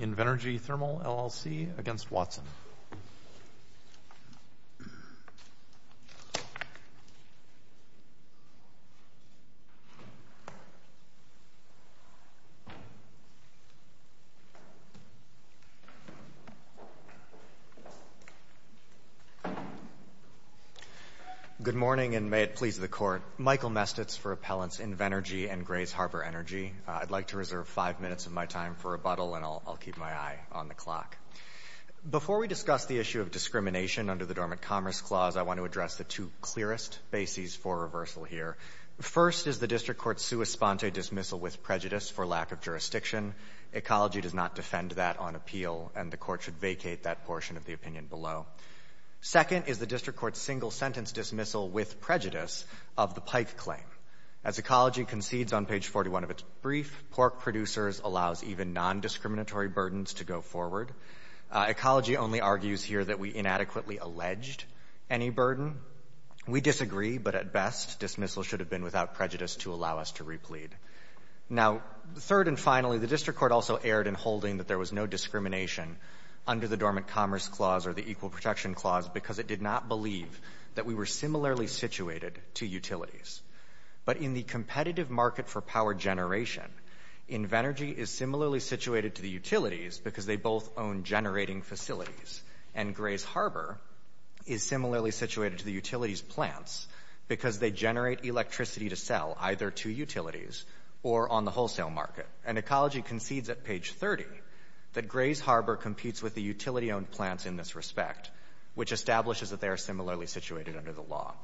Invenergy Thermal LLC v. Watson Good morning, and may it please the Court. Michael Mestitz for Appellants Invenergy and Grays Harbor Energy. I'd like to reserve five minutes of my time for rebuttal, and I'll keep my eye on the clock. Before we discuss the issue of discrimination under the Dormant Commerce Clause, I want to address the two clearest bases for reversal here. First is the District Court's sua sponte dismissal with prejudice for lack of jurisdiction. Ecology does not defend that on appeal, and the Court should vacate that portion of the claim. As Ecology concedes on page 41 of its brief, Pork Producers allows even nondiscriminatory burdens to go forward. Ecology only argues here that we inadequately alleged any burden. We disagree, but at best, dismissal should have been without prejudice to allow us to replead. Now, third and finally, the District Court also erred in holding that there was no discrimination under the Dormant Commerce Clause or the Equal Protection Clause because it did not believe that we were discriminating against the district and that we were similarly situated to utilities. But in the competitive market for power generation, Invenergy is similarly situated to the utilities because they both own generating facilities, and Grays Harbor is similarly situated to the utilities' plants because they generate electricity to sell either to utilities or on the wholesale market. And Ecology concedes at page 30 that Grays Harbor competes with the utility-owned plants in this respect, which establishes that they are similarly situated under the law.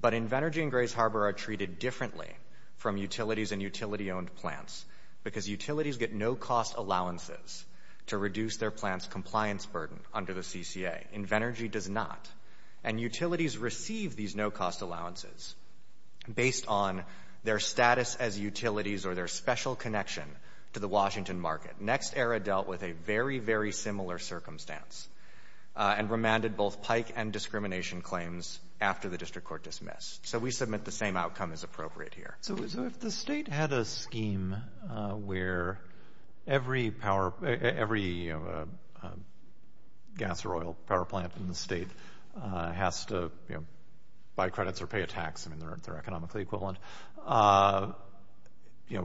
But Invenergy and Grays Harbor are treated differently from utilities and utility-owned plants because utilities get no-cost allowances to reduce their plants' compliance burden under the CCA. Invenergy does not. And utilities receive these no-cost allowances based on their status as utilities or their special connection to the Washington market. Next Era dealt with a very, very similar circumstance and remanded both pike and discrimination claims after the district court dismissed. So we submit the same outcome as appropriate here. So if the state had a scheme where every gas or oil power plant in the state has to buy credits or pay a tax, I mean, they're economically equivalent,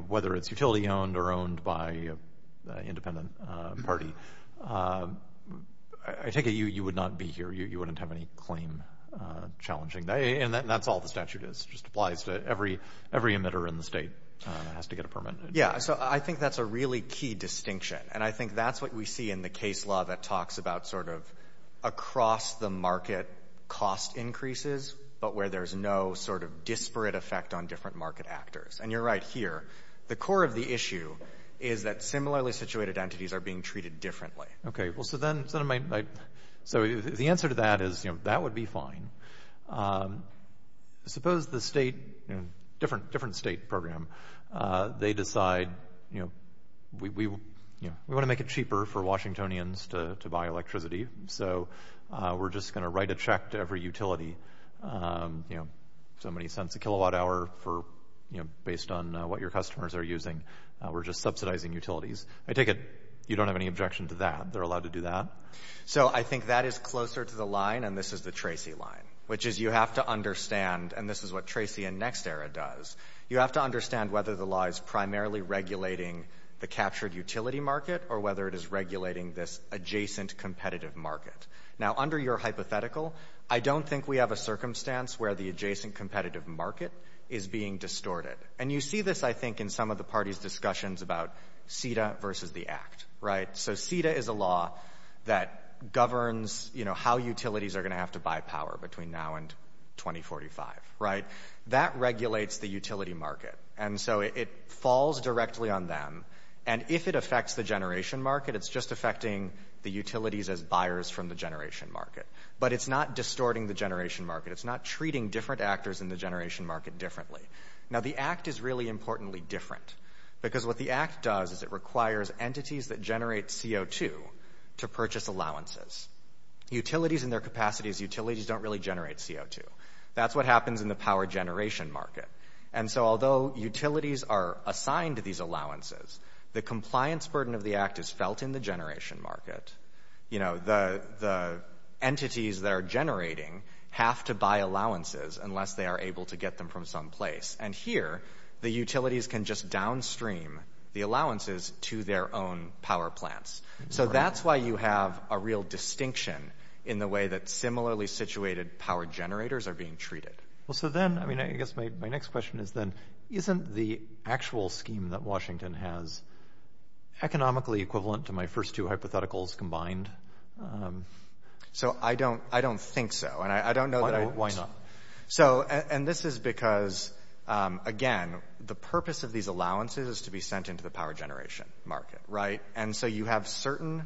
whether it's utility-owned or owned by an independent party, I take it you would not be here. You wouldn't have any claim challenging. And that's all the statute is. It just applies to every emitter in the state that has to get a permit. Yeah. So I think that's a really key distinction. And I think that's what we see in the case law that talks about sort of across-the-market cost increases, but where there's no sort of disparate effect on different market actors. And you're right here. The core of the issue is that similarly situated entities are being treated differently. Okay. Well, so then, so the answer to that is, you know, that would be fine. Suppose the state, you know, different state program, they decide, you know, we want to make it cheaper for Washingtonians to buy electricity. So we're just going to write a check to every utility, you know, so many cents a kilowatt hour for, you know, based on what your customers are using. We're just subsidizing utilities. I take it you don't have any objection to that. They're allowed to do that? So I think that is closer to the line, and this is the Tracy line, which is you have to understand, and this is what Tracy in NextEra does, you have to understand whether the law is primarily regulating the captured utility market or whether it is regulating this adjacent competitive market. Now, under your hypothetical, I don't think we have a circumstance where the adjacent competitive market is being distorted. And you see this, I think, in some of the parties' discussions about CETA versus the Act, right? So CETA is a law that governs, you know, how utilities are going to have to buy power between now and 2045, right? That regulates the utility market. And so it falls directly on them. And if it affects the generation market, it's just affecting the utilities as buyers from the generation market. But it's not distorting the generation market. It's not treating different actors in the generation market differently. Now, the Act is really importantly different. Because what the Act does is it requires entities that generate CO2 to purchase allowances. Utilities in their capacities, utilities don't really generate CO2. That's what happens in the power generation market. And so although utilities are assigned these allowances, the compliance burden of the Act is felt in the generation market. You know, the entities that are generating have to buy allowances unless they are able to get them from some place. And here, the utilities can just downstream the allowances to their own power plants. So that's why you have a real distinction in the way that similarly situated power generators are being treated. Well, so then, I mean, I guess my next question is then, isn't the actual scheme that Washington has economically equivalent to my first two hypotheticals combined? So I don't think so. And I don't know that I... Why not? So, and this is because, again, the purpose of these allowances is to be sent into the power generation market, right? And so you have certain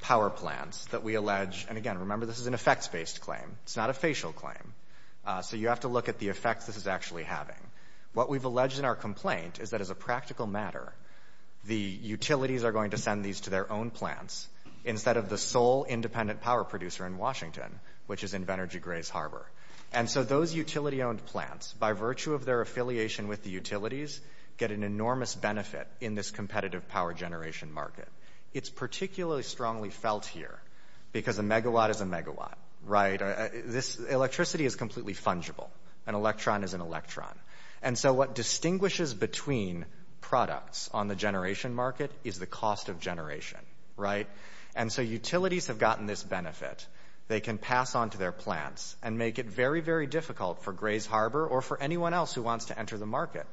power plants that we allege. And again, remember, this is an effects-based claim. It's not a facial claim. So you have to look at the effects this is actually having. What we've alleged in our complaint is that as a practical matter, the utilities are going to send these to their own plants instead of the sole independent power producer in Washington, which is in Venergy Graze Harbor. And so those utility-owned plants, by virtue of their affiliation with the utilities, get an enormous benefit in this competitive power generation market. It's particularly strongly felt here because a megawatt is a megawatt, right? This electricity is completely fungible. An electron is an electron. And so what distinguishes between products on the generation market is the cost of generation, right? And so utilities have gotten this benefit. They can pass on to their plants and make it very, very difficult for Graze Harbor or for anyone else who wants to enter the market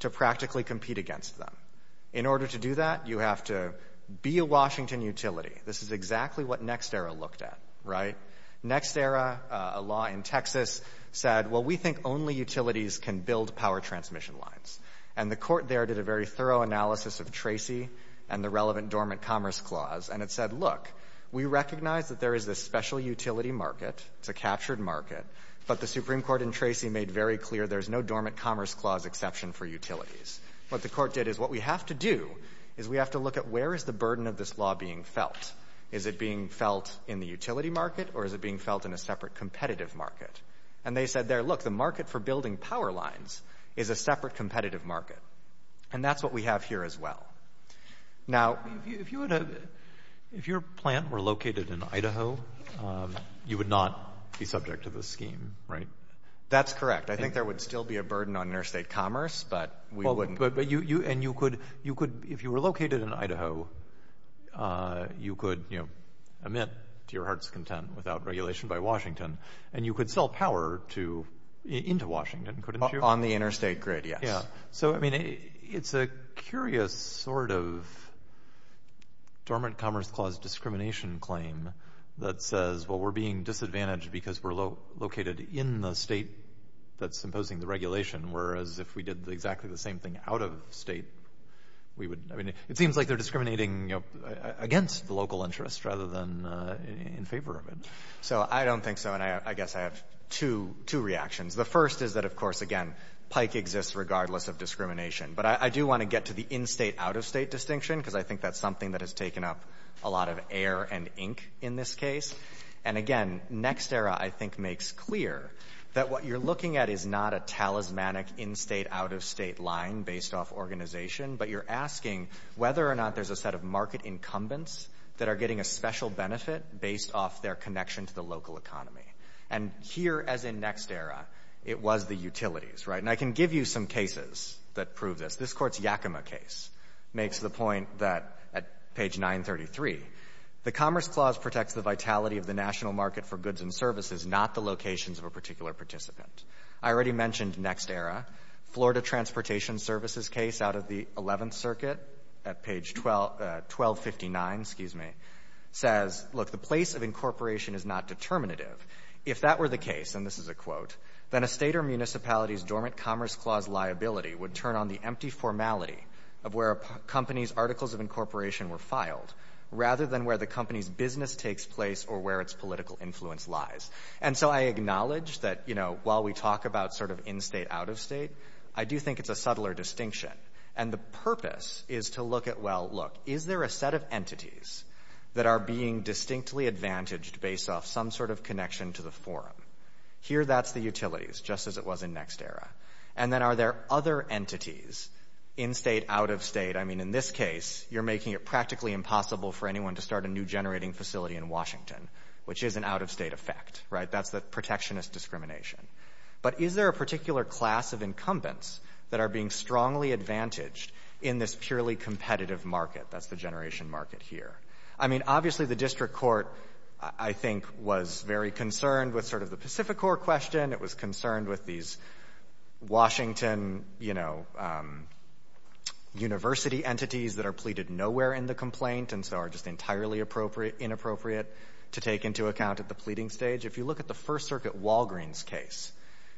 to practically compete against them. In order to do that, you have to be a Washington utility. This is exactly what NextEra looked at, right? NextEra, a law in Texas, said, well, we think only utilities can build power transmission lines. And the Court there did a very thorough analysis of Tracy and the relevant Dormant Commerce Clause, and it said, look, we recognize that there is this special utility market. It's a captured market. But the Supreme Court in Tracy made very clear there's no Dormant Commerce Clause exception for utilities. What the Court did is what we have to do is we have to look at where is the burden of this law being felt? Is it being felt in the utility market, or is it being felt in a separate competitive market? And they said there, look, the market for building power lines is a separate competitive market. And that's what we have here as well. Now, if your plant were located in Idaho, you would not be subject to this scheme, right? That's correct. I think there would still be a burden on interstate commerce, but we wouldn't. If you were located in Idaho, you could admit to your heart's content without regulation by Washington, and you could sell power into Washington, couldn't you? On the interstate grid, yes. So it's a curious sort of Dormant Commerce Clause discrimination claim that says, well, we're being disadvantaged because we're located in the state that's imposing the regulation, whereas if we did exactly the same thing out of state, we would, I mean, it seems like they're discriminating against the local interest rather than in favor of it. So I don't think so, and I guess I have two reactions. The first is that, of course, again, pike exists regardless of discrimination. But I do want to get to the in-state, out-of-state distinction because I think that's something that has taken up a lot of air and ink in this case. And again, NextEra, I think, makes clear that what you're looking at is not a talismanic, in-state, out-of-state line based off organization, but you're asking whether or not there's a set of market incumbents that are getting a special benefit based off their connection to the local economy. And here, as in NextEra, it was the utilities, right? And I can give you some cases that prove this. This Court's Yakima case makes the point that, at page 933, the Commerce Clause protects the vitality of the national market for goods and services, not the locations of a particular participant. I already mentioned NextEra. Florida Transportation Services case out of the 11th Circuit at page 1259, excuse me, says, look, the place of incorporation is not determinative. If that were the case, and this is a quote, then a state or municipality's dormant Commerce Clause liability would turn on the empty formality of where a company's articles of incorporation were filed, rather than where the company's business takes place or where its political influence lies. And so I acknowledge that, you know, while we talk about sort of in-state, out-of-state, I do think it's a subtler distinction. And the purpose is to look at, well, look, is there a set of entities that are being distinctly advantaged based off some sort of connection to the forum? Here, that's the utilities, just as it was in NextEra. And then are there other entities, in-state, out-of-state? I mean, in this case, you're making it practically impossible for anyone to start a new generating facility in Washington, which is an out-of-state effect, right? That's the protectionist discrimination. But is there a particular class of incumbents that are being strongly advantaged in this purely competitive market? That's the generation market here. I mean, obviously, the district court, I think, was very concerned with sort of the Pacific Core question. It was concerned with these Washington, you know, university entities that are pleaded nowhere in the complaint and so are just entirely inappropriate to take into account at the pleading stage. If you look at the First Circuit Walgreens case,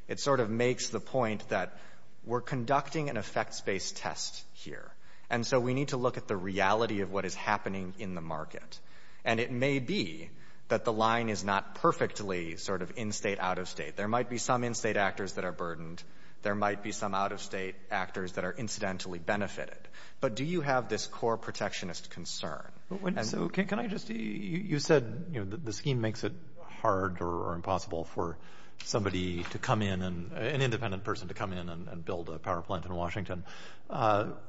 it sort of makes the point that we're conducting an effects-based test here. And so we need to look at the reality of what is happening in the market. And it may be that the line is not perfectly sort of in-state, out-of-state. There might be some in-state actors that are burdened. There might be some out-of-state actors that are incidentally benefited. But do you have this core protectionist concern? So, can I just – you said, you know, the scheme makes it hard or impossible for somebody to come in and – an independent person to come in and build a power plant in Washington.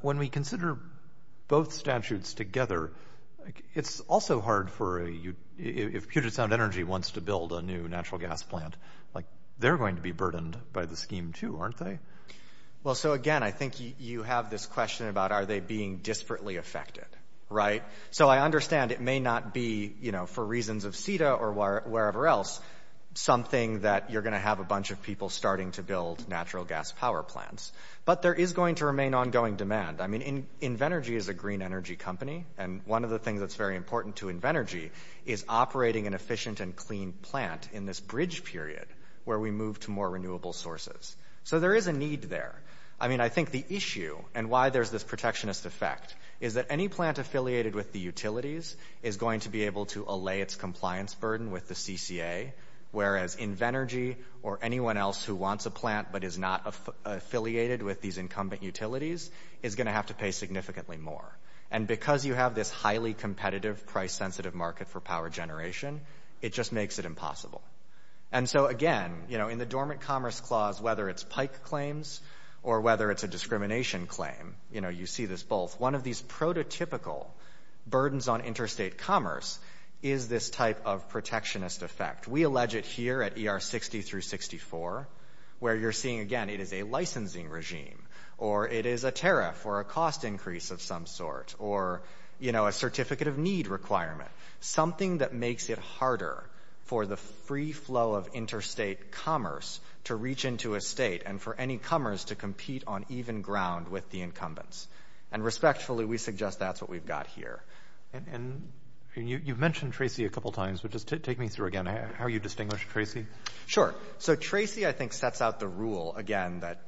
When we consider both statutes together, it's also hard for a – if Puget Sound Energy wants to build a new natural gas plant, like, they're going to be burdened by the scheme too, aren't they? Well, so again, I think you have this question about are they being disparately affected, right? So I understand it may not be, you know, for reasons of CETA or wherever else, something that you're going to have a bunch of people starting to build natural gas power plants. But there is going to remain ongoing demand. I mean, Invenergy is a green energy company. And one of the things that's very important to Invenergy is operating an efficient and clean plant in this bridge period where we move to more renewable sources. So there is a need there. I mean, I think the issue and why there's this protectionist effect is that any plant affiliated with the utilities is going to be able to allay its compliance burden with the CCA, whereas Invenergy or anyone else who wants a plant but is not affiliated with these incumbent utilities is going to have to pay significantly more. And because you have this highly competitive, price-sensitive market for power generation, it just makes it impossible. And so, again, you know, in the Dormant Commerce Clause, whether it's PIKE claims or whether it's a discrimination claim, you know, you see this both. One of these prototypical burdens on interstate commerce is this type of protectionist effect. We allege it here at ER 60 through 64, where you're seeing, again, it is a licensing regime or it is a tariff or a cost increase of some sort or, you know, a certificate of need requirement, something that makes it harder for the free flow of interstate commerce to reach into a state and for any comers to compete on even ground with the incumbents. And respectfully, we suggest that's what we've got here. And you've mentioned Tracy a couple times, but just take me through again how you distinguish Tracy. Sure. So Tracy, I think, sets out the rule, again, that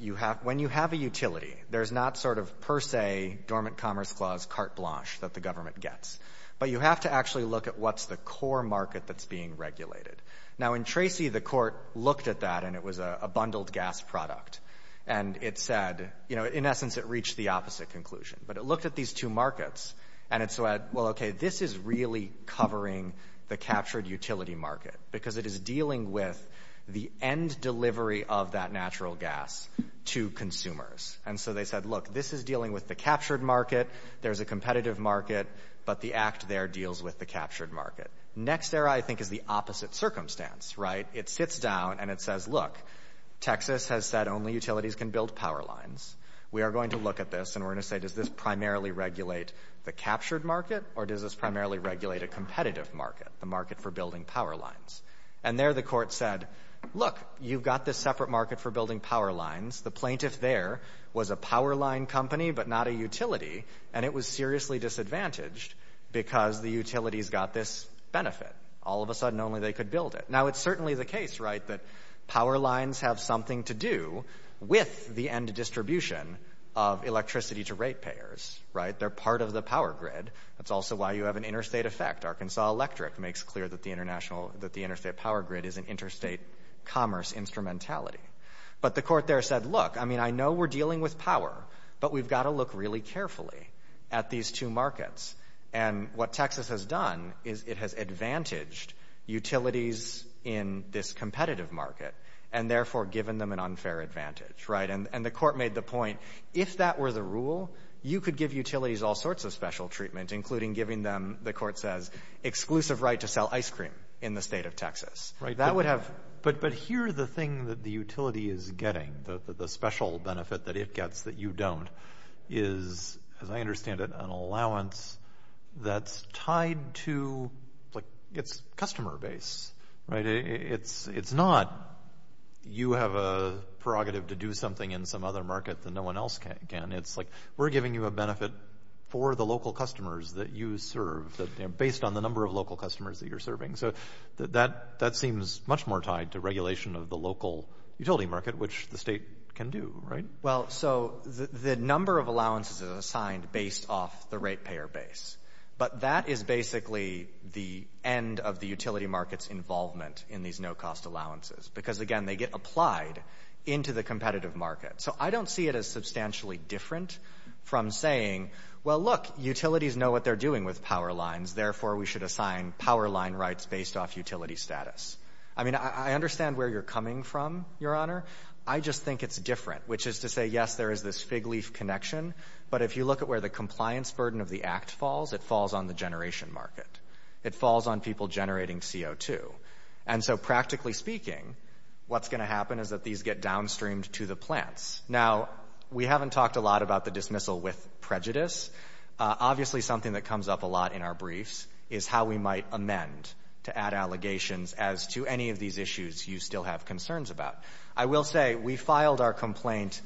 when you have a utility, there's not sort of per se Dormant Commerce Clause carte blanche that the government gets. But you have to actually look at what's the core market that's being regulated. Now, in Tracy, the Court looked at that, and it was a bundled gas product. And it said, you know, in essence, it reached the opposite conclusion. But it looked at these two markets, and it said, well, okay, this is really covering the captured utility market because it is dealing with the end delivery of that natural gas to consumers. And so they said, look, this is dealing with the captured market. There's a competitive market. But the act there deals with the captured market. Next there, I think, is the opposite circumstance, right? It sits down, and it says, look, Texas has said only utilities can build power lines. We are going to look at this, and we're going to say, does this primarily regulate the captured market, or does this primarily regulate a competitive market, the market for building power lines? And there, the Court said, look, you've got this separate market for building power lines. The plaintiff there was a power line company, but not a utility. And it was seriously disadvantaged because the utilities got this benefit. All of a sudden, only they could build it. Now, it's certainly the case, right, that power lines have something to do with the end distribution of electricity to rate payers, right? They're part of the power grid. That's also why you have an interstate effect. Arkansas Electric makes clear that the interstate power grid is an interstate commerce instrumentality. But the Court there said, look, I mean, I know we're dealing with power, but we've got to look really carefully at these two markets. And what Texas has done is it has advantaged utilities in this competitive market and, therefore, given them an unfair advantage, right? And the Court made the point, if that were the rule, you could give utilities all sorts of special treatment, including giving them, the Court says, exclusive right to sell ice cream in the State of Texas. That would have — But here, the thing that the utility is getting, the special benefit that it gets that you don't, is, as I understand it, an allowance that's tied to, like, its customer base, right? It's not you have a prerogative to do something in some other market that no one else can. It's, like, we're giving you a benefit for the local customers that you serve, based on the number of local customers that you're serving. So that seems much more tied to regulation of the local utility market, which the state can do, right? Well, so the number of allowances is assigned based off the ratepayer base. But that is basically the end of the utility market's involvement in these no-cost allowances. Because, again, they get applied into the competitive market. So I don't see it as substantially different from saying, well, look, utilities know what they're doing with power lines. Therefore, we should assign power line rights based off utility status. I mean, I understand where you're coming from, Your Honor. I just think it's different, which is to say, yes, there is this fig leaf connection. But if you look at where the compliance burden of the Act falls, it falls on the generation market. It falls on people generating CO2. And so, practically speaking, what's going to happen is that these get downstreamed to the plants. Now, we haven't talked a lot about the dismissal with prejudice. Obviously, something that comes up a lot in our briefs is how we might amend to add allegations as to any of these issues you still have concerns about. I will say we filed our complaint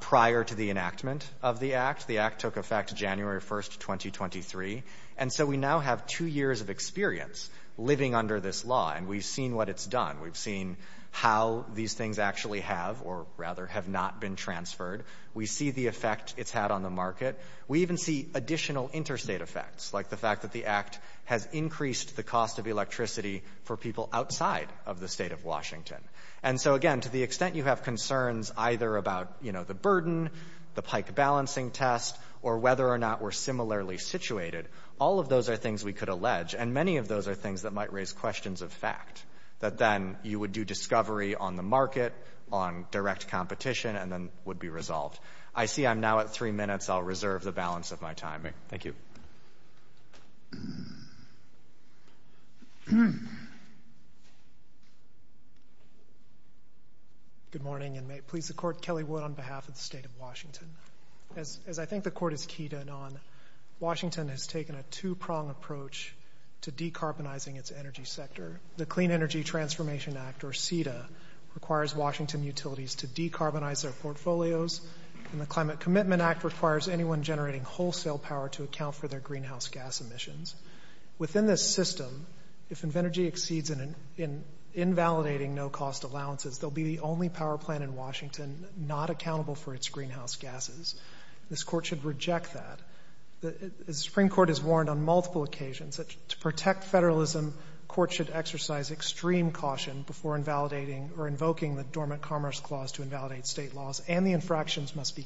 prior to the enactment of the Act. The Act took effect January 1st, 2023. And so we now have two years of experience living under this law. And we've seen what it's done. We've seen how these things actually have or, rather, have not been transferred. We see the effect it's had on the market. We even see additional interstate effects, like the fact that the Act has increased the cost of electricity for people outside of the State of Washington. And so, again, to the extent you have concerns either about, you know, the burden, the pike balancing test, or whether or not we're similarly situated, all of those are things we could allege. And many of those are things that might raise questions of fact, that then you would do discovery on the market, on direct competition, and then would be resolved. I see I'm now at three minutes. I'll reserve the balance of my time. Thank you. Good morning. And may it please the Court, Kelly Wood on behalf of the State of Washington. As I think the Court is keyed in on, Washington has taken a two-prong approach to decarbonizing its energy sector. The Clean Energy Transformation Act, or CETA, requires Washington utilities to decarbonize their portfolios. And the Climate Commitment Act requires anyone generating wholesale power to account for their greenhouse gas emissions. Within this system, if energy exceeds in invalidating no-cost allowances, they'll be the only power plant in Washington not accountable for its greenhouse gases. This Court should reject that. The Supreme Court has warned on multiple occasions that to protect federalism, courts should exercise extreme caution before invalidating or invoking the Dormant Commerce Clause to be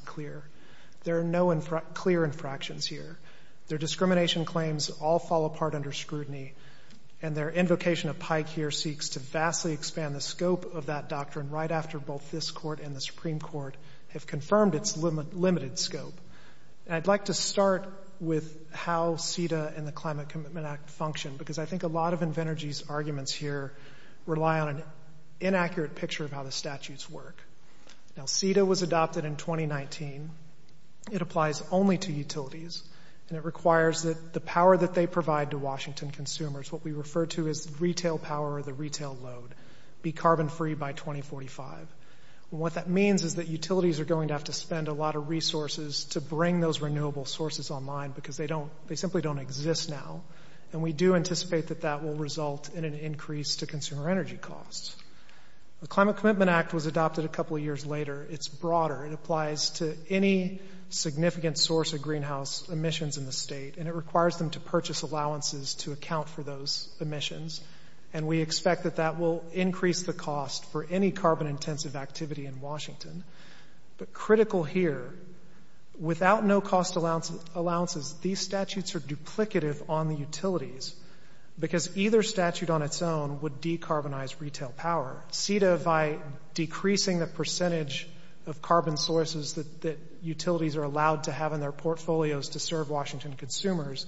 clear. There are no clear infractions here. Their discrimination claims all fall apart under scrutiny, and their invocation of Pike here seeks to vastly expand the scope of that doctrine right after both this Court and the Supreme Court have confirmed its limited scope. And I'd like to start with how CETA and the Climate Commitment Act function, because I think a lot of Envenergy's arguments here rely on an inaccurate picture of how the statutes work. Now, CETA was adopted in 2019. It applies only to utilities, and it requires that the power that they provide to Washington consumers, what we refer to as the retail power or the retail load, be carbon-free by 2045. What that means is that utilities are going to have to spend a lot of resources to bring those renewable sources online because they simply don't exist now, and we do anticipate that that will result in an increase to consumer energy costs. The Climate Commitment Act was adopted a couple of years later. It's broader. It applies to any significant source of greenhouse emissions in the state, and it requires them to purchase allowances to account for those emissions, and we expect that that will increase the cost for any carbon-intensive activity in Washington. But critical here, without no-cost allowances, these statutes are duplicative on the utilities because either statute on its own would decarbonize retail power. CETA, by decreasing the percentage of carbon sources that utilities are allowed to have in their portfolios to serve Washington consumers,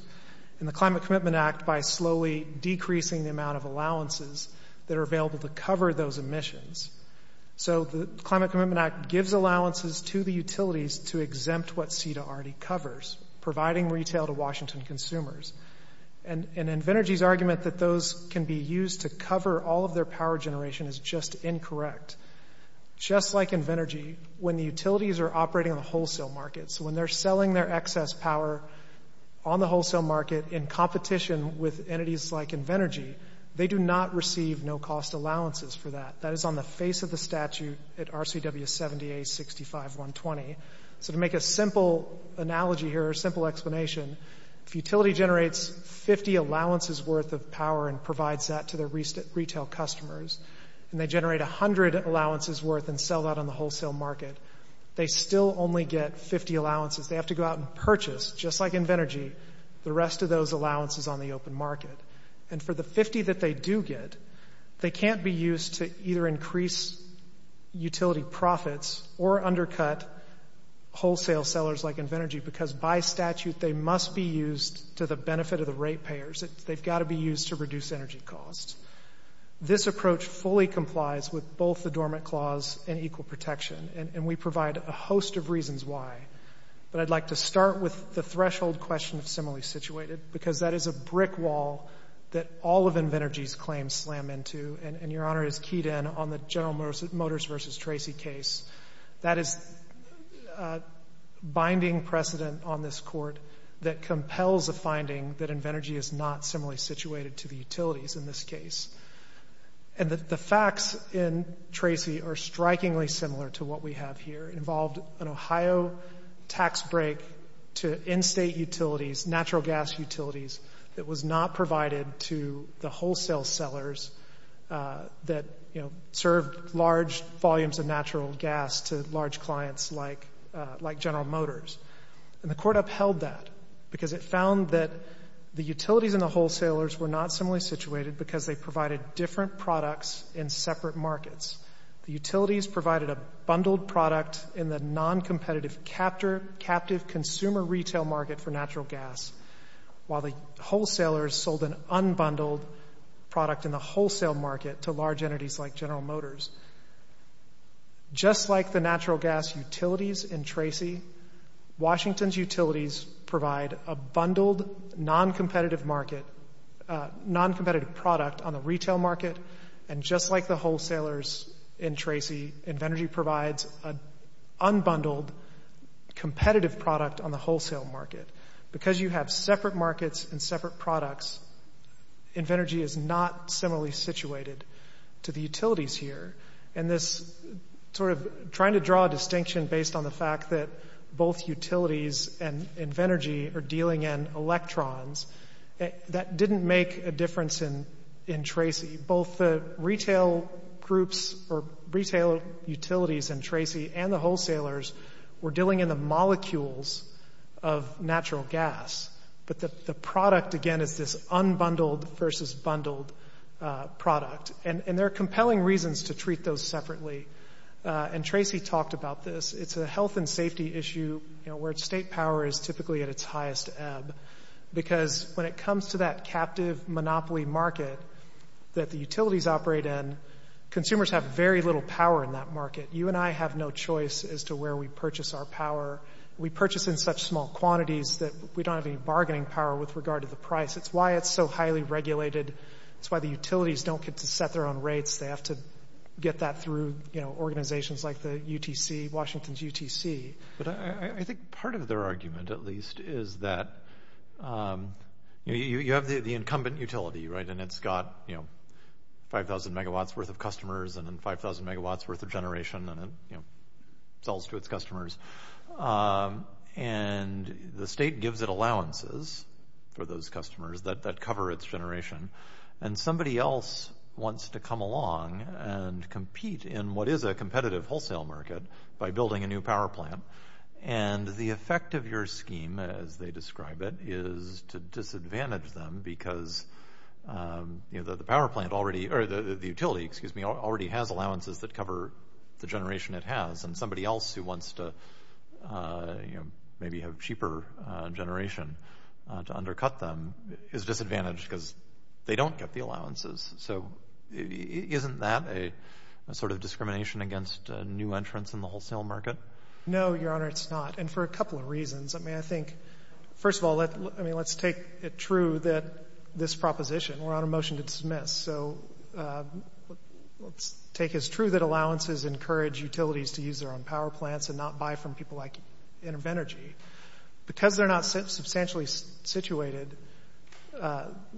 and the Climate Commitment Act by slowly decreasing the amount of allowances that are available to cover those emissions. So the Climate Commitment Act gives allowances to the utilities to exempt what CETA already covers, providing retail to Washington consumers, and Invenergy's argument that those can be used to cover all of their power generation is just incorrect. Just like Invenergy, when the utilities are operating on the wholesale market, so when they're selling their excess power on the wholesale market in competition with entities like Invenergy, they do not receive no-cost allowances for that. That is on the face of the statute at RCW 70-A-65-120. So to make a simple analogy here, a simple explanation, if a utility generates 50 allowances worth of power and provides that to their retail customers, and they generate 100 allowances worth and sell that on the wholesale market, they still only get 50 allowances. They have to go out and purchase, just like Invenergy, the rest of those allowances on the open market. And for the 50 that they do get, they can't be used to either increase utility profits or undercut wholesale sellers like Invenergy, because by statute, they must be used to the benefit of the ratepayers. They've got to be used to reduce energy costs. This approach fully complies with both the Dormant Clause and Equal Protection, and we provide a host of reasons why. But I'd like to start with the threshold question of similarly situated, because that is a brick wall that all of Invenergy's claims slam into, and Your Honor is keyed in on the General Motors v. Tracy case. That is a binding precedent on this Court that compels a finding that Invenergy is not similarly situated to the utilities in this case. And the facts in Tracy are strikingly similar to what we have here. It involved an Ohio tax break to in-state utilities, natural gas utilities, that was not provided to the wholesale sellers that, you know, served large volumes of natural gas to large clients like General Motors. And the Court upheld that because it found that the utilities and the wholesalers were not similarly situated because they provided different products in separate markets. The utilities provided a bundled product in the noncompetitive captive consumer retail market for natural gas, while the wholesalers sold an unbundled product in the wholesale market to large entities like General Motors. Just like the natural gas utilities in Tracy, Washington's utilities provide a bundled noncompetitive market, noncompetitive product on the retail market, and just like the wholesalers in Tracy, Invenergy provides an unbundled competitive product on the wholesale market. Because you have separate markets and separate products, Invenergy is not similarly situated to the utilities here. And this sort of trying to draw a distinction based on the fact that both utilities and Invenergy are dealing in electrons, that didn't make a difference in Tracy. Both the retail groups or retail utilities in Tracy and the wholesalers were dealing in the molecules of natural gas. But the product, again, is this unbundled versus bundled product. And there are compelling reasons to treat those separately. And Tracy talked about this. It's a health and safety issue where state power is typically at its highest ebb because when it comes to that captive monopoly market that the utilities operate in, consumers have very little power in that market. You and I have no choice as to where we purchase our power. We purchase in such small quantities that we don't have any bargaining power with regard to the price. It's why it's so highly regulated. It's why the utilities don't get to set their own rates. They have to get that through organizations like the UTC, Washington's UTC. But I think part of their argument, at least, is that you have the incumbent utility, right? And it's got 5,000 megawatts worth of customers and then 5,000 megawatts worth of generation and it sells to its customers. And the state gives it allowances for those customers that cover its generation. And somebody else wants to come along and compete in what is a competitive wholesale market by building a new power plant. And the effect of your scheme, as they describe it, is to disadvantage them because the utility already has allowances that cover the generation it has. And somebody else who wants to maybe have cheaper generation to undercut them is disadvantaged because they don't get the allowances. So isn't that a sort of discrimination against new entrants in the wholesale market? No, Your Honor, it's not. And for a couple of reasons. I mean, I think, first of all, let's take it true that this proposition, we're on a motion to dismiss. So let's take as true that allowances encourage utilities to use their own power plants and not buy from people like Intervenergy. Because they're not substantially situated,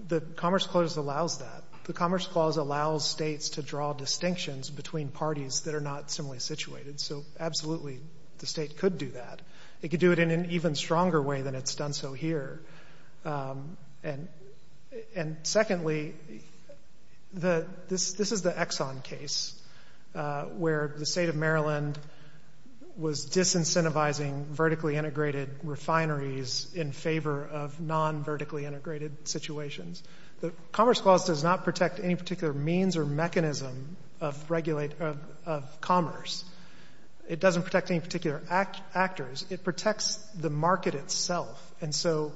the Commerce Clause allows that. The Commerce Clause allows states to draw distinctions between parties that are not similarly situated. So absolutely, the state could do that. It could do it in an even stronger way than it's done so here. And secondly, this is the Exxon case where the state of Maryland was disincentivizing vertically integrated refineries in favor of non-vertically integrated situations. The Commerce Clause does not protect any particular means or mechanism of commerce. It doesn't protect any particular actors. It protects the market itself. And so,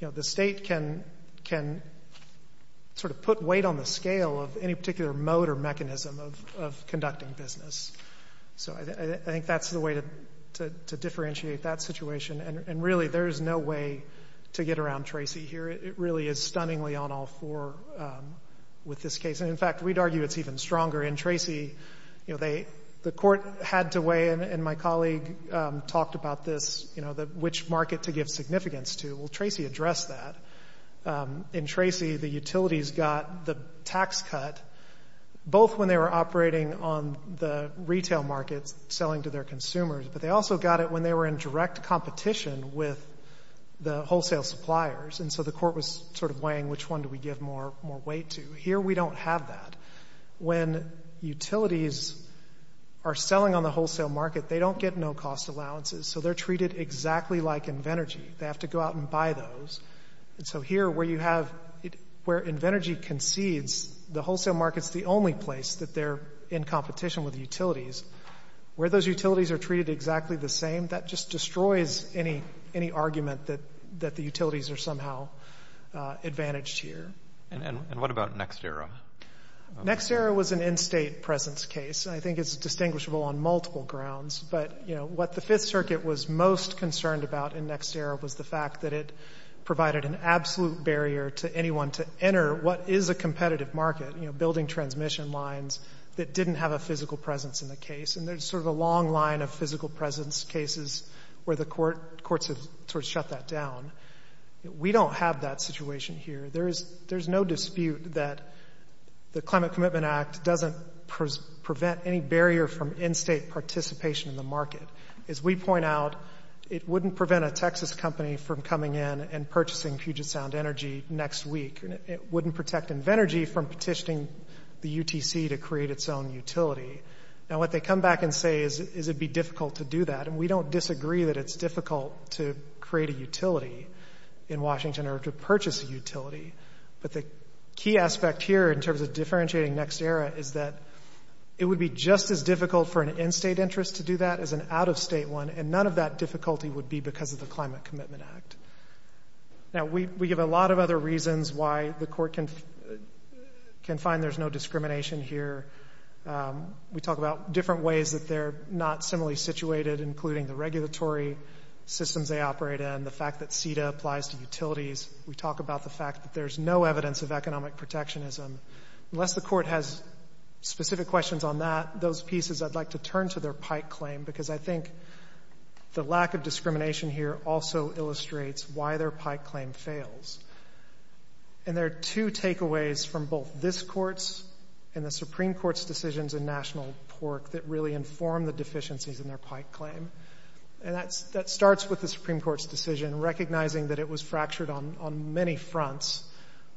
you know, the state can sort of put weight on the scale of any particular mode or mechanism of conducting business. So I think that's the way to differentiate that situation. And really, there is no way to get around Tracy here. It really is stunningly on all four with this case. And in fact, we'd argue it's even stronger. In Tracy, you know, the court had to weigh, and my colleague talked about this, you know, which market to give significance to. Well, Tracy addressed that. In Tracy, the utilities got the tax cut both when they were operating on the retail markets selling to their consumers, but they also got it when they were in direct competition with the wholesale suppliers. And so the court was sort of weighing which one do we give more weight to. Here, we don't have that. When utilities are selling on the wholesale market, they don't get no cost allowances. So they're treated exactly like Invenergy. They have to go out and buy those. And so here, where you have — where Invenergy concedes the wholesale market's the only place that they're in competition with utilities, where those utilities are treated exactly the same, that just destroys any argument that the utilities are somehow advantaged here. And what about NextEra? NextEra was an in-state presence case, and I think it's distinguishable on multiple grounds. But, you know, what the Fifth Circuit was most concerned about in NextEra was the fact that it provided an absolute barrier to anyone to enter what is a competitive market, you know, building transmission lines that didn't have a physical presence in the case. And there's sort of a long line of physical presence cases where the courts have sort of shut that down. We don't have that situation here. There's no dispute that the Climate Commitment Act doesn't prevent any barrier from in-state participation in the market. As we point out, it wouldn't prevent a Texas company from coming in and purchasing Puget Sound Energy next week. It wouldn't protect Invenergy from petitioning the UTC to create its own utility. Now, what they come back and say is it'd be difficult to do that, and we don't disagree that it's difficult to create a utility in Washington or to purchase a utility. But the key aspect here in terms of differentiating NextEra is that it would be just as difficult for an in-state interest to do that as an out-of-state one, and none of that difficulty would be because of the Climate Commitment Act. Now, we give a lot of other reasons why the court can find there's no discrimination here. We talk about different ways that they're not similarly situated, including the regulatory systems they operate in, the fact that CETA applies to utilities. We talk about the fact that there's no evidence of economic protectionism. Unless the court has specific questions on that, those pieces, I'd like to turn to their Pike claim, because I think the lack of discrimination here also illustrates why their Pike claim fails. And there are two takeaways from both this Court's and the Supreme Court's decisions in National Pork that really inform the deficiencies in their Pike claim. And that starts with the Supreme Court's decision, recognizing that it was fractured on many fronts.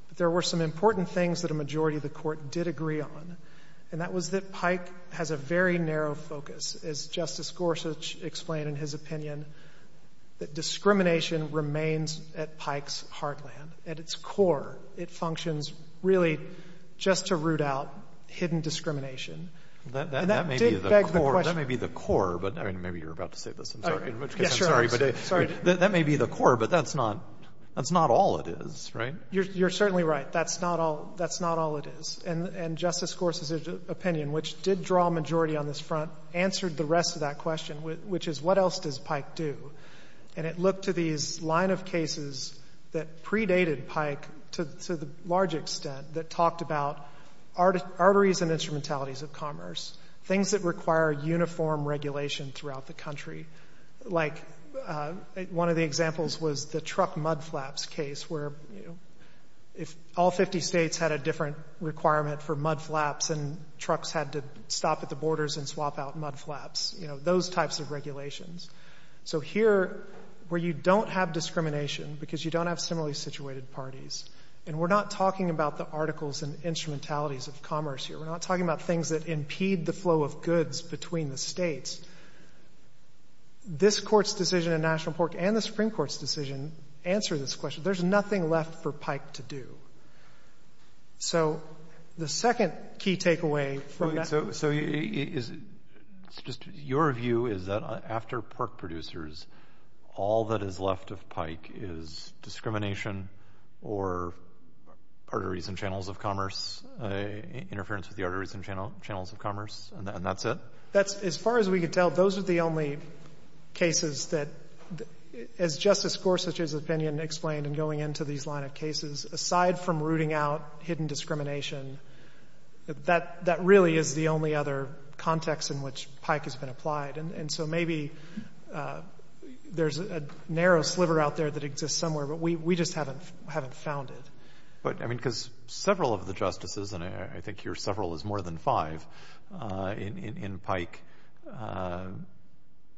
But there were some important things that a majority of the Court did agree on, and that was that Pike has a very narrow focus. As Justice Gorsuch explained in his opinion, that discrimination remains at Pike's heartland, at its core. It functions really just to root out hidden discrimination. And that did beg the question of the Supreme Court's decision, and that's not all it is, right? You're certainly right. That's not all it is. And Justice Gorsuch's opinion, which did draw a majority on this front, answered the rest of that question, which is, what else does Pike do? And it looked to these line of cases that predated Pike to the large extent that talked about arteries and instrumentalities of commerce, things that require uniform regulation throughout the country. Like one of the examples was the truck mudflaps case, where if all 50 states had a different requirement for mudflaps and trucks had to stop at the borders and swap out mudflaps, you know, those types of regulations. So here, where you don't have discrimination because you don't have similarly situated parties, and we're not talking about the articles and instrumentalities of commerce here. We're not talking about things that impede the flow of goods between the states. This Court's decision in National Port and the Supreme Court's decision answer this question. There's nothing left for Pike to do. So the second key takeaway from that— your view is that after pork producers, all that is left of Pike is discrimination or arteries and channels of commerce, interference with the arteries and channels of commerce, and that's it? That's, as far as we could tell, those are the only cases that, as Justice Gorsuch's opinion explained in going into these line of cases, aside from rooting out hidden discrimination, that really is the only other context in which Pike has been applied. And so maybe there's a narrow sliver out there that exists somewhere, but we just haven't found it. But, I mean, because several of the justices, and I think here several is more than five, in Pike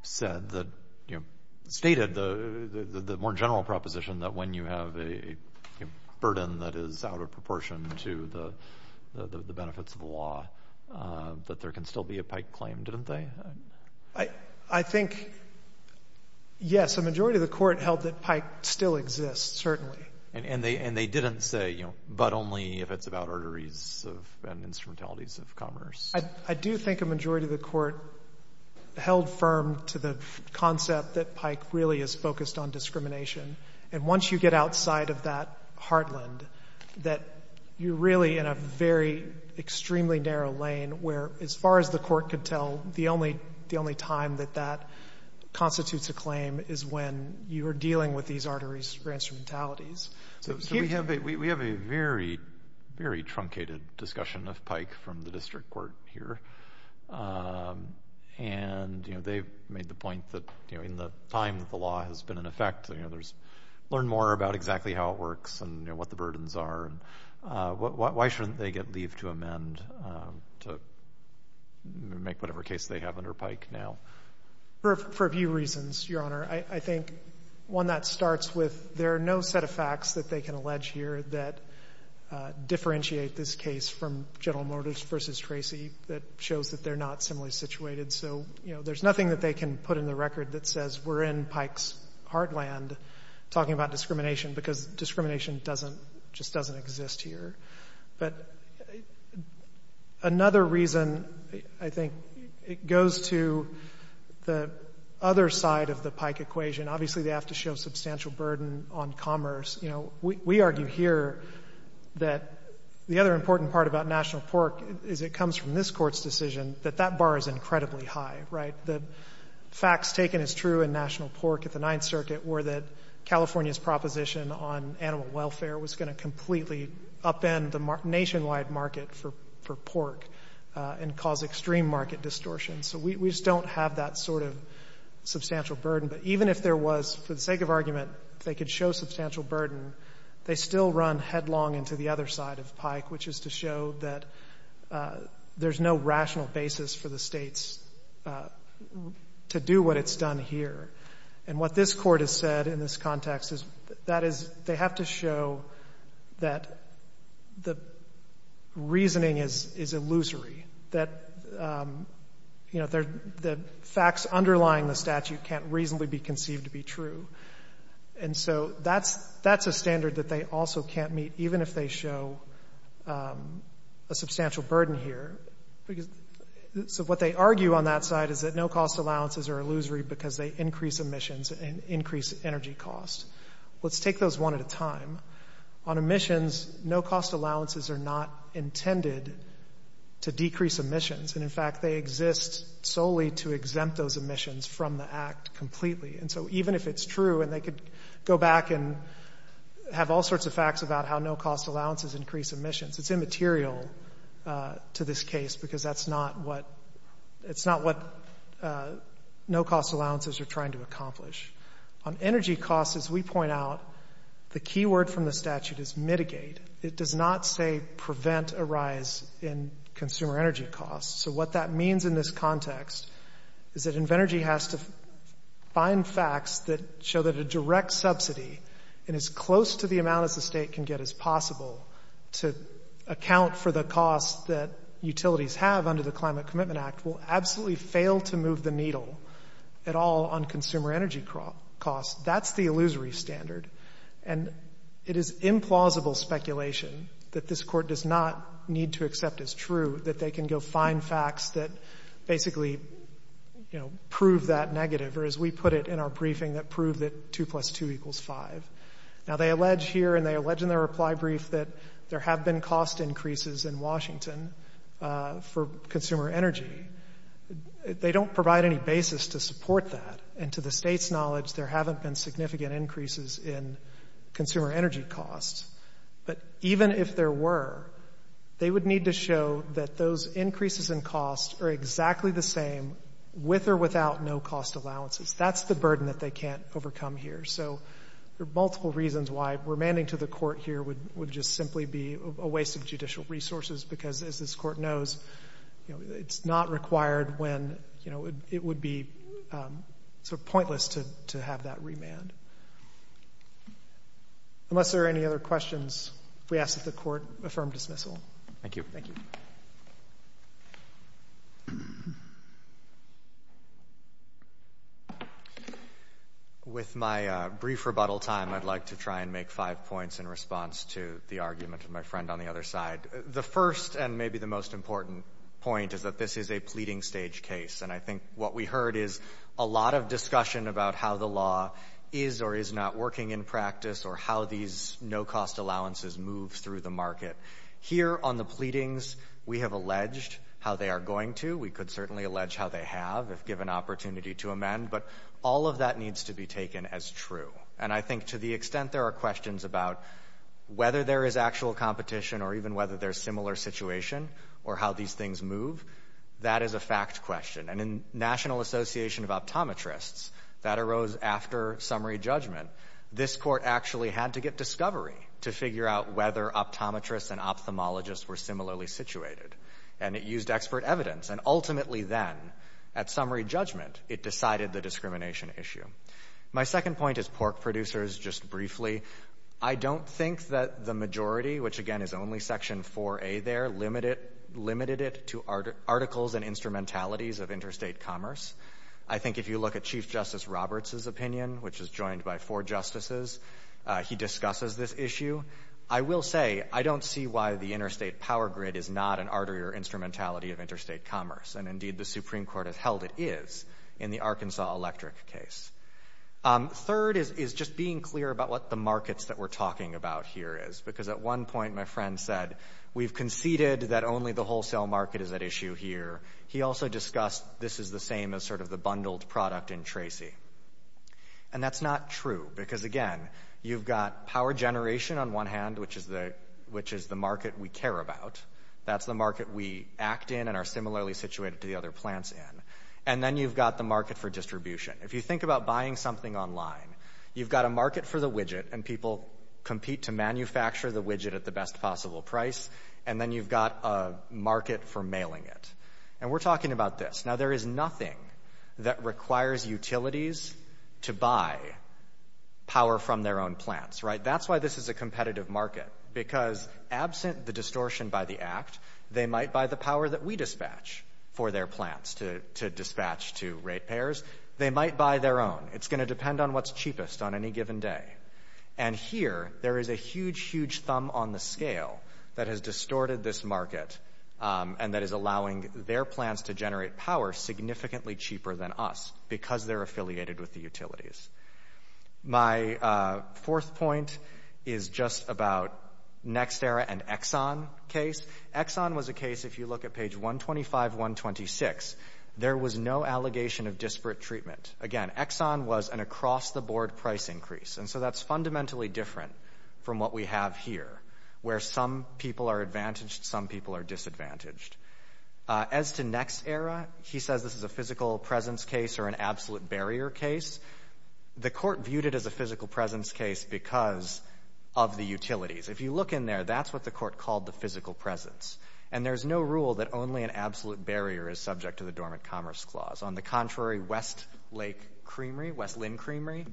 said that, you know, stated the more general proposition that when you have a burden that is out of proportion to the benefits of the law, that there can still be a Pike claim, didn't they? I think, yes, a majority of the Court held that Pike still exists, certainly. And they didn't say, you know, but only if it's about arteries and instrumentalities of commerce. I do think a majority of the Court held firm to the concept that Pike really is focused on discrimination. And once you get outside of that heartland, that you're really in a very extremely narrow lane where, as far as the Court could tell, the only time that that constitutes a claim is when you're dealing with these arteries or instrumentalities. So we have a very, very truncated discussion of Pike from the District Court here. And, you know, they've made the point that, you know, in the time that the law has been in effect, you know, there's learned more about exactly how it works and, you know, what the burdens are. Why shouldn't they get leave to amend to make whatever case they have under Pike now? For a few reasons, Your Honor. I think one that starts with there are no set of facts that they can allege here that differentiate this case from General Motors versus Tracy that shows that they're not similarly situated. So, you know, there's nothing that they can put in the record that says we're in Pike's heartland talking about discrimination because discrimination doesn't, just doesn't exist here. But another reason, I think, it goes to the other side of the Pike equation. Obviously, they have to show substantial burden on commerce. You know, we argue here that the other important part about national pork is it comes from this Court's decision that that bar is incredibly high, right? The facts taken as true in national pork at the Ninth Circuit were that California's proposition on animal welfare was going to completely upend the nationwide market for pork and cause extreme market distortion. So we just don't have that sort of substantial burden. But even if there was, for the sake of argument, if they could show substantial burden, they still run headlong into the other side of Pike, which is to show that there's no rational basis for the states to do what it's done here. And what this Court has said in this context is that is they have to show that the reasoning is illusory, that, you know, the facts underlying the statute can't reasonably be conceived to be true. And so that's a standard that they also can't meet, even if they show a substantial burden here. So what they argue on that side is that no-cost allowances are illusory because they increase emissions and increase energy costs. Let's take those one at a time. On emissions, no-cost allowances are not intended to decrease emissions. And, in fact, they exist solely to exempt those emissions from the Act completely. And so even if it's true and they could go back and have all sorts of facts about how no-cost allowances increase emissions, it's immaterial to this case because that's not what no-cost allowances are trying to accomplish. On energy costs, as we point out, the key word from the statute is mitigate. It does not say prevent a rise in consumer energy costs. So what that means in this context is that Invenergy has to find facts that show that a direct subsidy in as close to the amount as the state can get as possible to account for the costs that utilities have under the Climate Commitment Act will absolutely fail to move the needle at all on consumer energy costs. That's the illusory standard. And it is implausible speculation that this Court does not need to accept as true that they can go find facts that basically, you know, prove that negative or, as we put it in our briefing, that prove that 2 plus 2 equals 5. Now, they allege here and they allege in their reply brief that there have been cost increases in Washington for consumer energy. They don't provide any basis to support that. And to the state's knowledge, there haven't been significant increases in consumer energy costs, but even if there were, they would need to show that those increases in costs are exactly the same with or without no-cost allowances. That's the burden that they can't overcome here. So there are multiple reasons why remanding to the Court here would just simply be a waste of judicial resources because, as this Court knows, you know, it's not required when, you know, it would be sort of pointless to have that remand. Unless there are any other questions, we ask that the Court affirm dismissal. Thank you. With my brief rebuttal time, I'd like to try and make five points in response to the argument of my friend on the other side. The first and maybe the most important point is that this is a pleading-stage case. And I think what we heard is a lot of discussion about how the law is or is not working in practice or how these no-cost allowances move through the market. Here on the pleadings, we have alleged how they are going to. We could certainly allege how they have if given opportunity to amend, but all of that needs to be taken as true. And I think to the extent there are questions about whether there is actual competition or even whether there is similar situation or how these things move, that is a fact question. And in National Association of Optometrists, that arose after summary judgment. This Court actually had to get discovery to figure out whether optometrists and ophthalmologists were similarly situated. And it used expert evidence. And ultimately then, at summary judgment, it decided the discrimination issue. My second point is pork producers, just briefly. I don't think that the majority, which again is only Section 4A there, limited it to articles and instrumentalities of interstate commerce. I think if you look at Chief Justice Roberts' opinion, which is joined by four justices, he discusses this issue. I will say I don't see why the interstate power grid is not an artery or instrumentality of interstate commerce. And indeed, the Supreme Court has held it is in the Arkansas electric case. Third is just being clear about what the markets that we're talking about here is. Because at one point, my friend said, we've conceded that only the wholesale market is at issue here. He also discussed this is the same as sort of the bundled product in Tracy. And that's not true. Because again, you've got power generation on one hand, which is the market we care about. That's the market we act in and are similarly situated to the other plants in. And then you've got the market for distribution. If you think about buying something online, you've got a market for the widget and people compete to manufacture the widget at the best possible price. And then you've got a market for mailing it. And we're talking about this. Now, there is nothing that requires utilities to buy power from their own plants. Right? That's why this is a competitive market. Because absent the distortion by the Act, they might buy the power that we dispatch for their plants to dispatch to rate payers. They might buy their own. It's going to depend on what's cheapest on any given day. And here, there is a huge, huge thumb on the scale that has distorted this market and that is allowing their plants to generate power significantly cheaper than us because they're affiliated with the utilities. My fourth point is just about NextEra and Exxon case. Exxon was a case, if you look at page 125, 126, there was no allegation of disparate treatment. Again, Exxon was an across-the-board price increase. And so that's fundamentally different from what we have here, where some people are advantaged, some people are disadvantaged. As to NextEra, he says this is a physical presence case or an absolute barrier case. The court viewed it as a physical presence case because of the utilities. If you look in there, that's what the court called the physical presence. And there's no rule that only an absolute barrier is subject to the Dormant Commerce Clause. On the contrary, West Lake Creamery, West Lynn Creamery,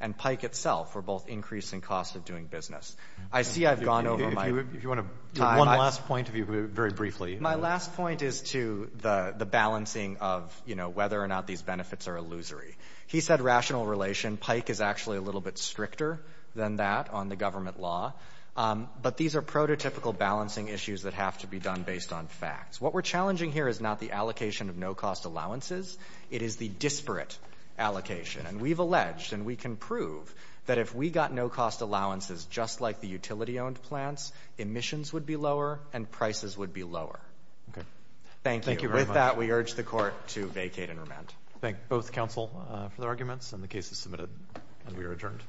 and Pike itself were both increasing costs of doing business. I see I've gone over my— If you want to— One last point, if you could very briefly— My last point is to the balancing of whether or not these benefits are illusory. He said rational relation. Pike is actually a little bit stricter than that on the government law. But these are prototypical balancing issues that have to be done based on facts. What we're challenging here is not the allocation of no-cost allowances. It is the disparate allocation. And we've alleged, and we can prove, that if we got no-cost allowances just like the utility-owned plants, emissions would be lower and prices would be lower. Thank you. With that, we urge the court to vacate and remand. Thank both counsel for their arguments, and the case is submitted, and we are adjourned.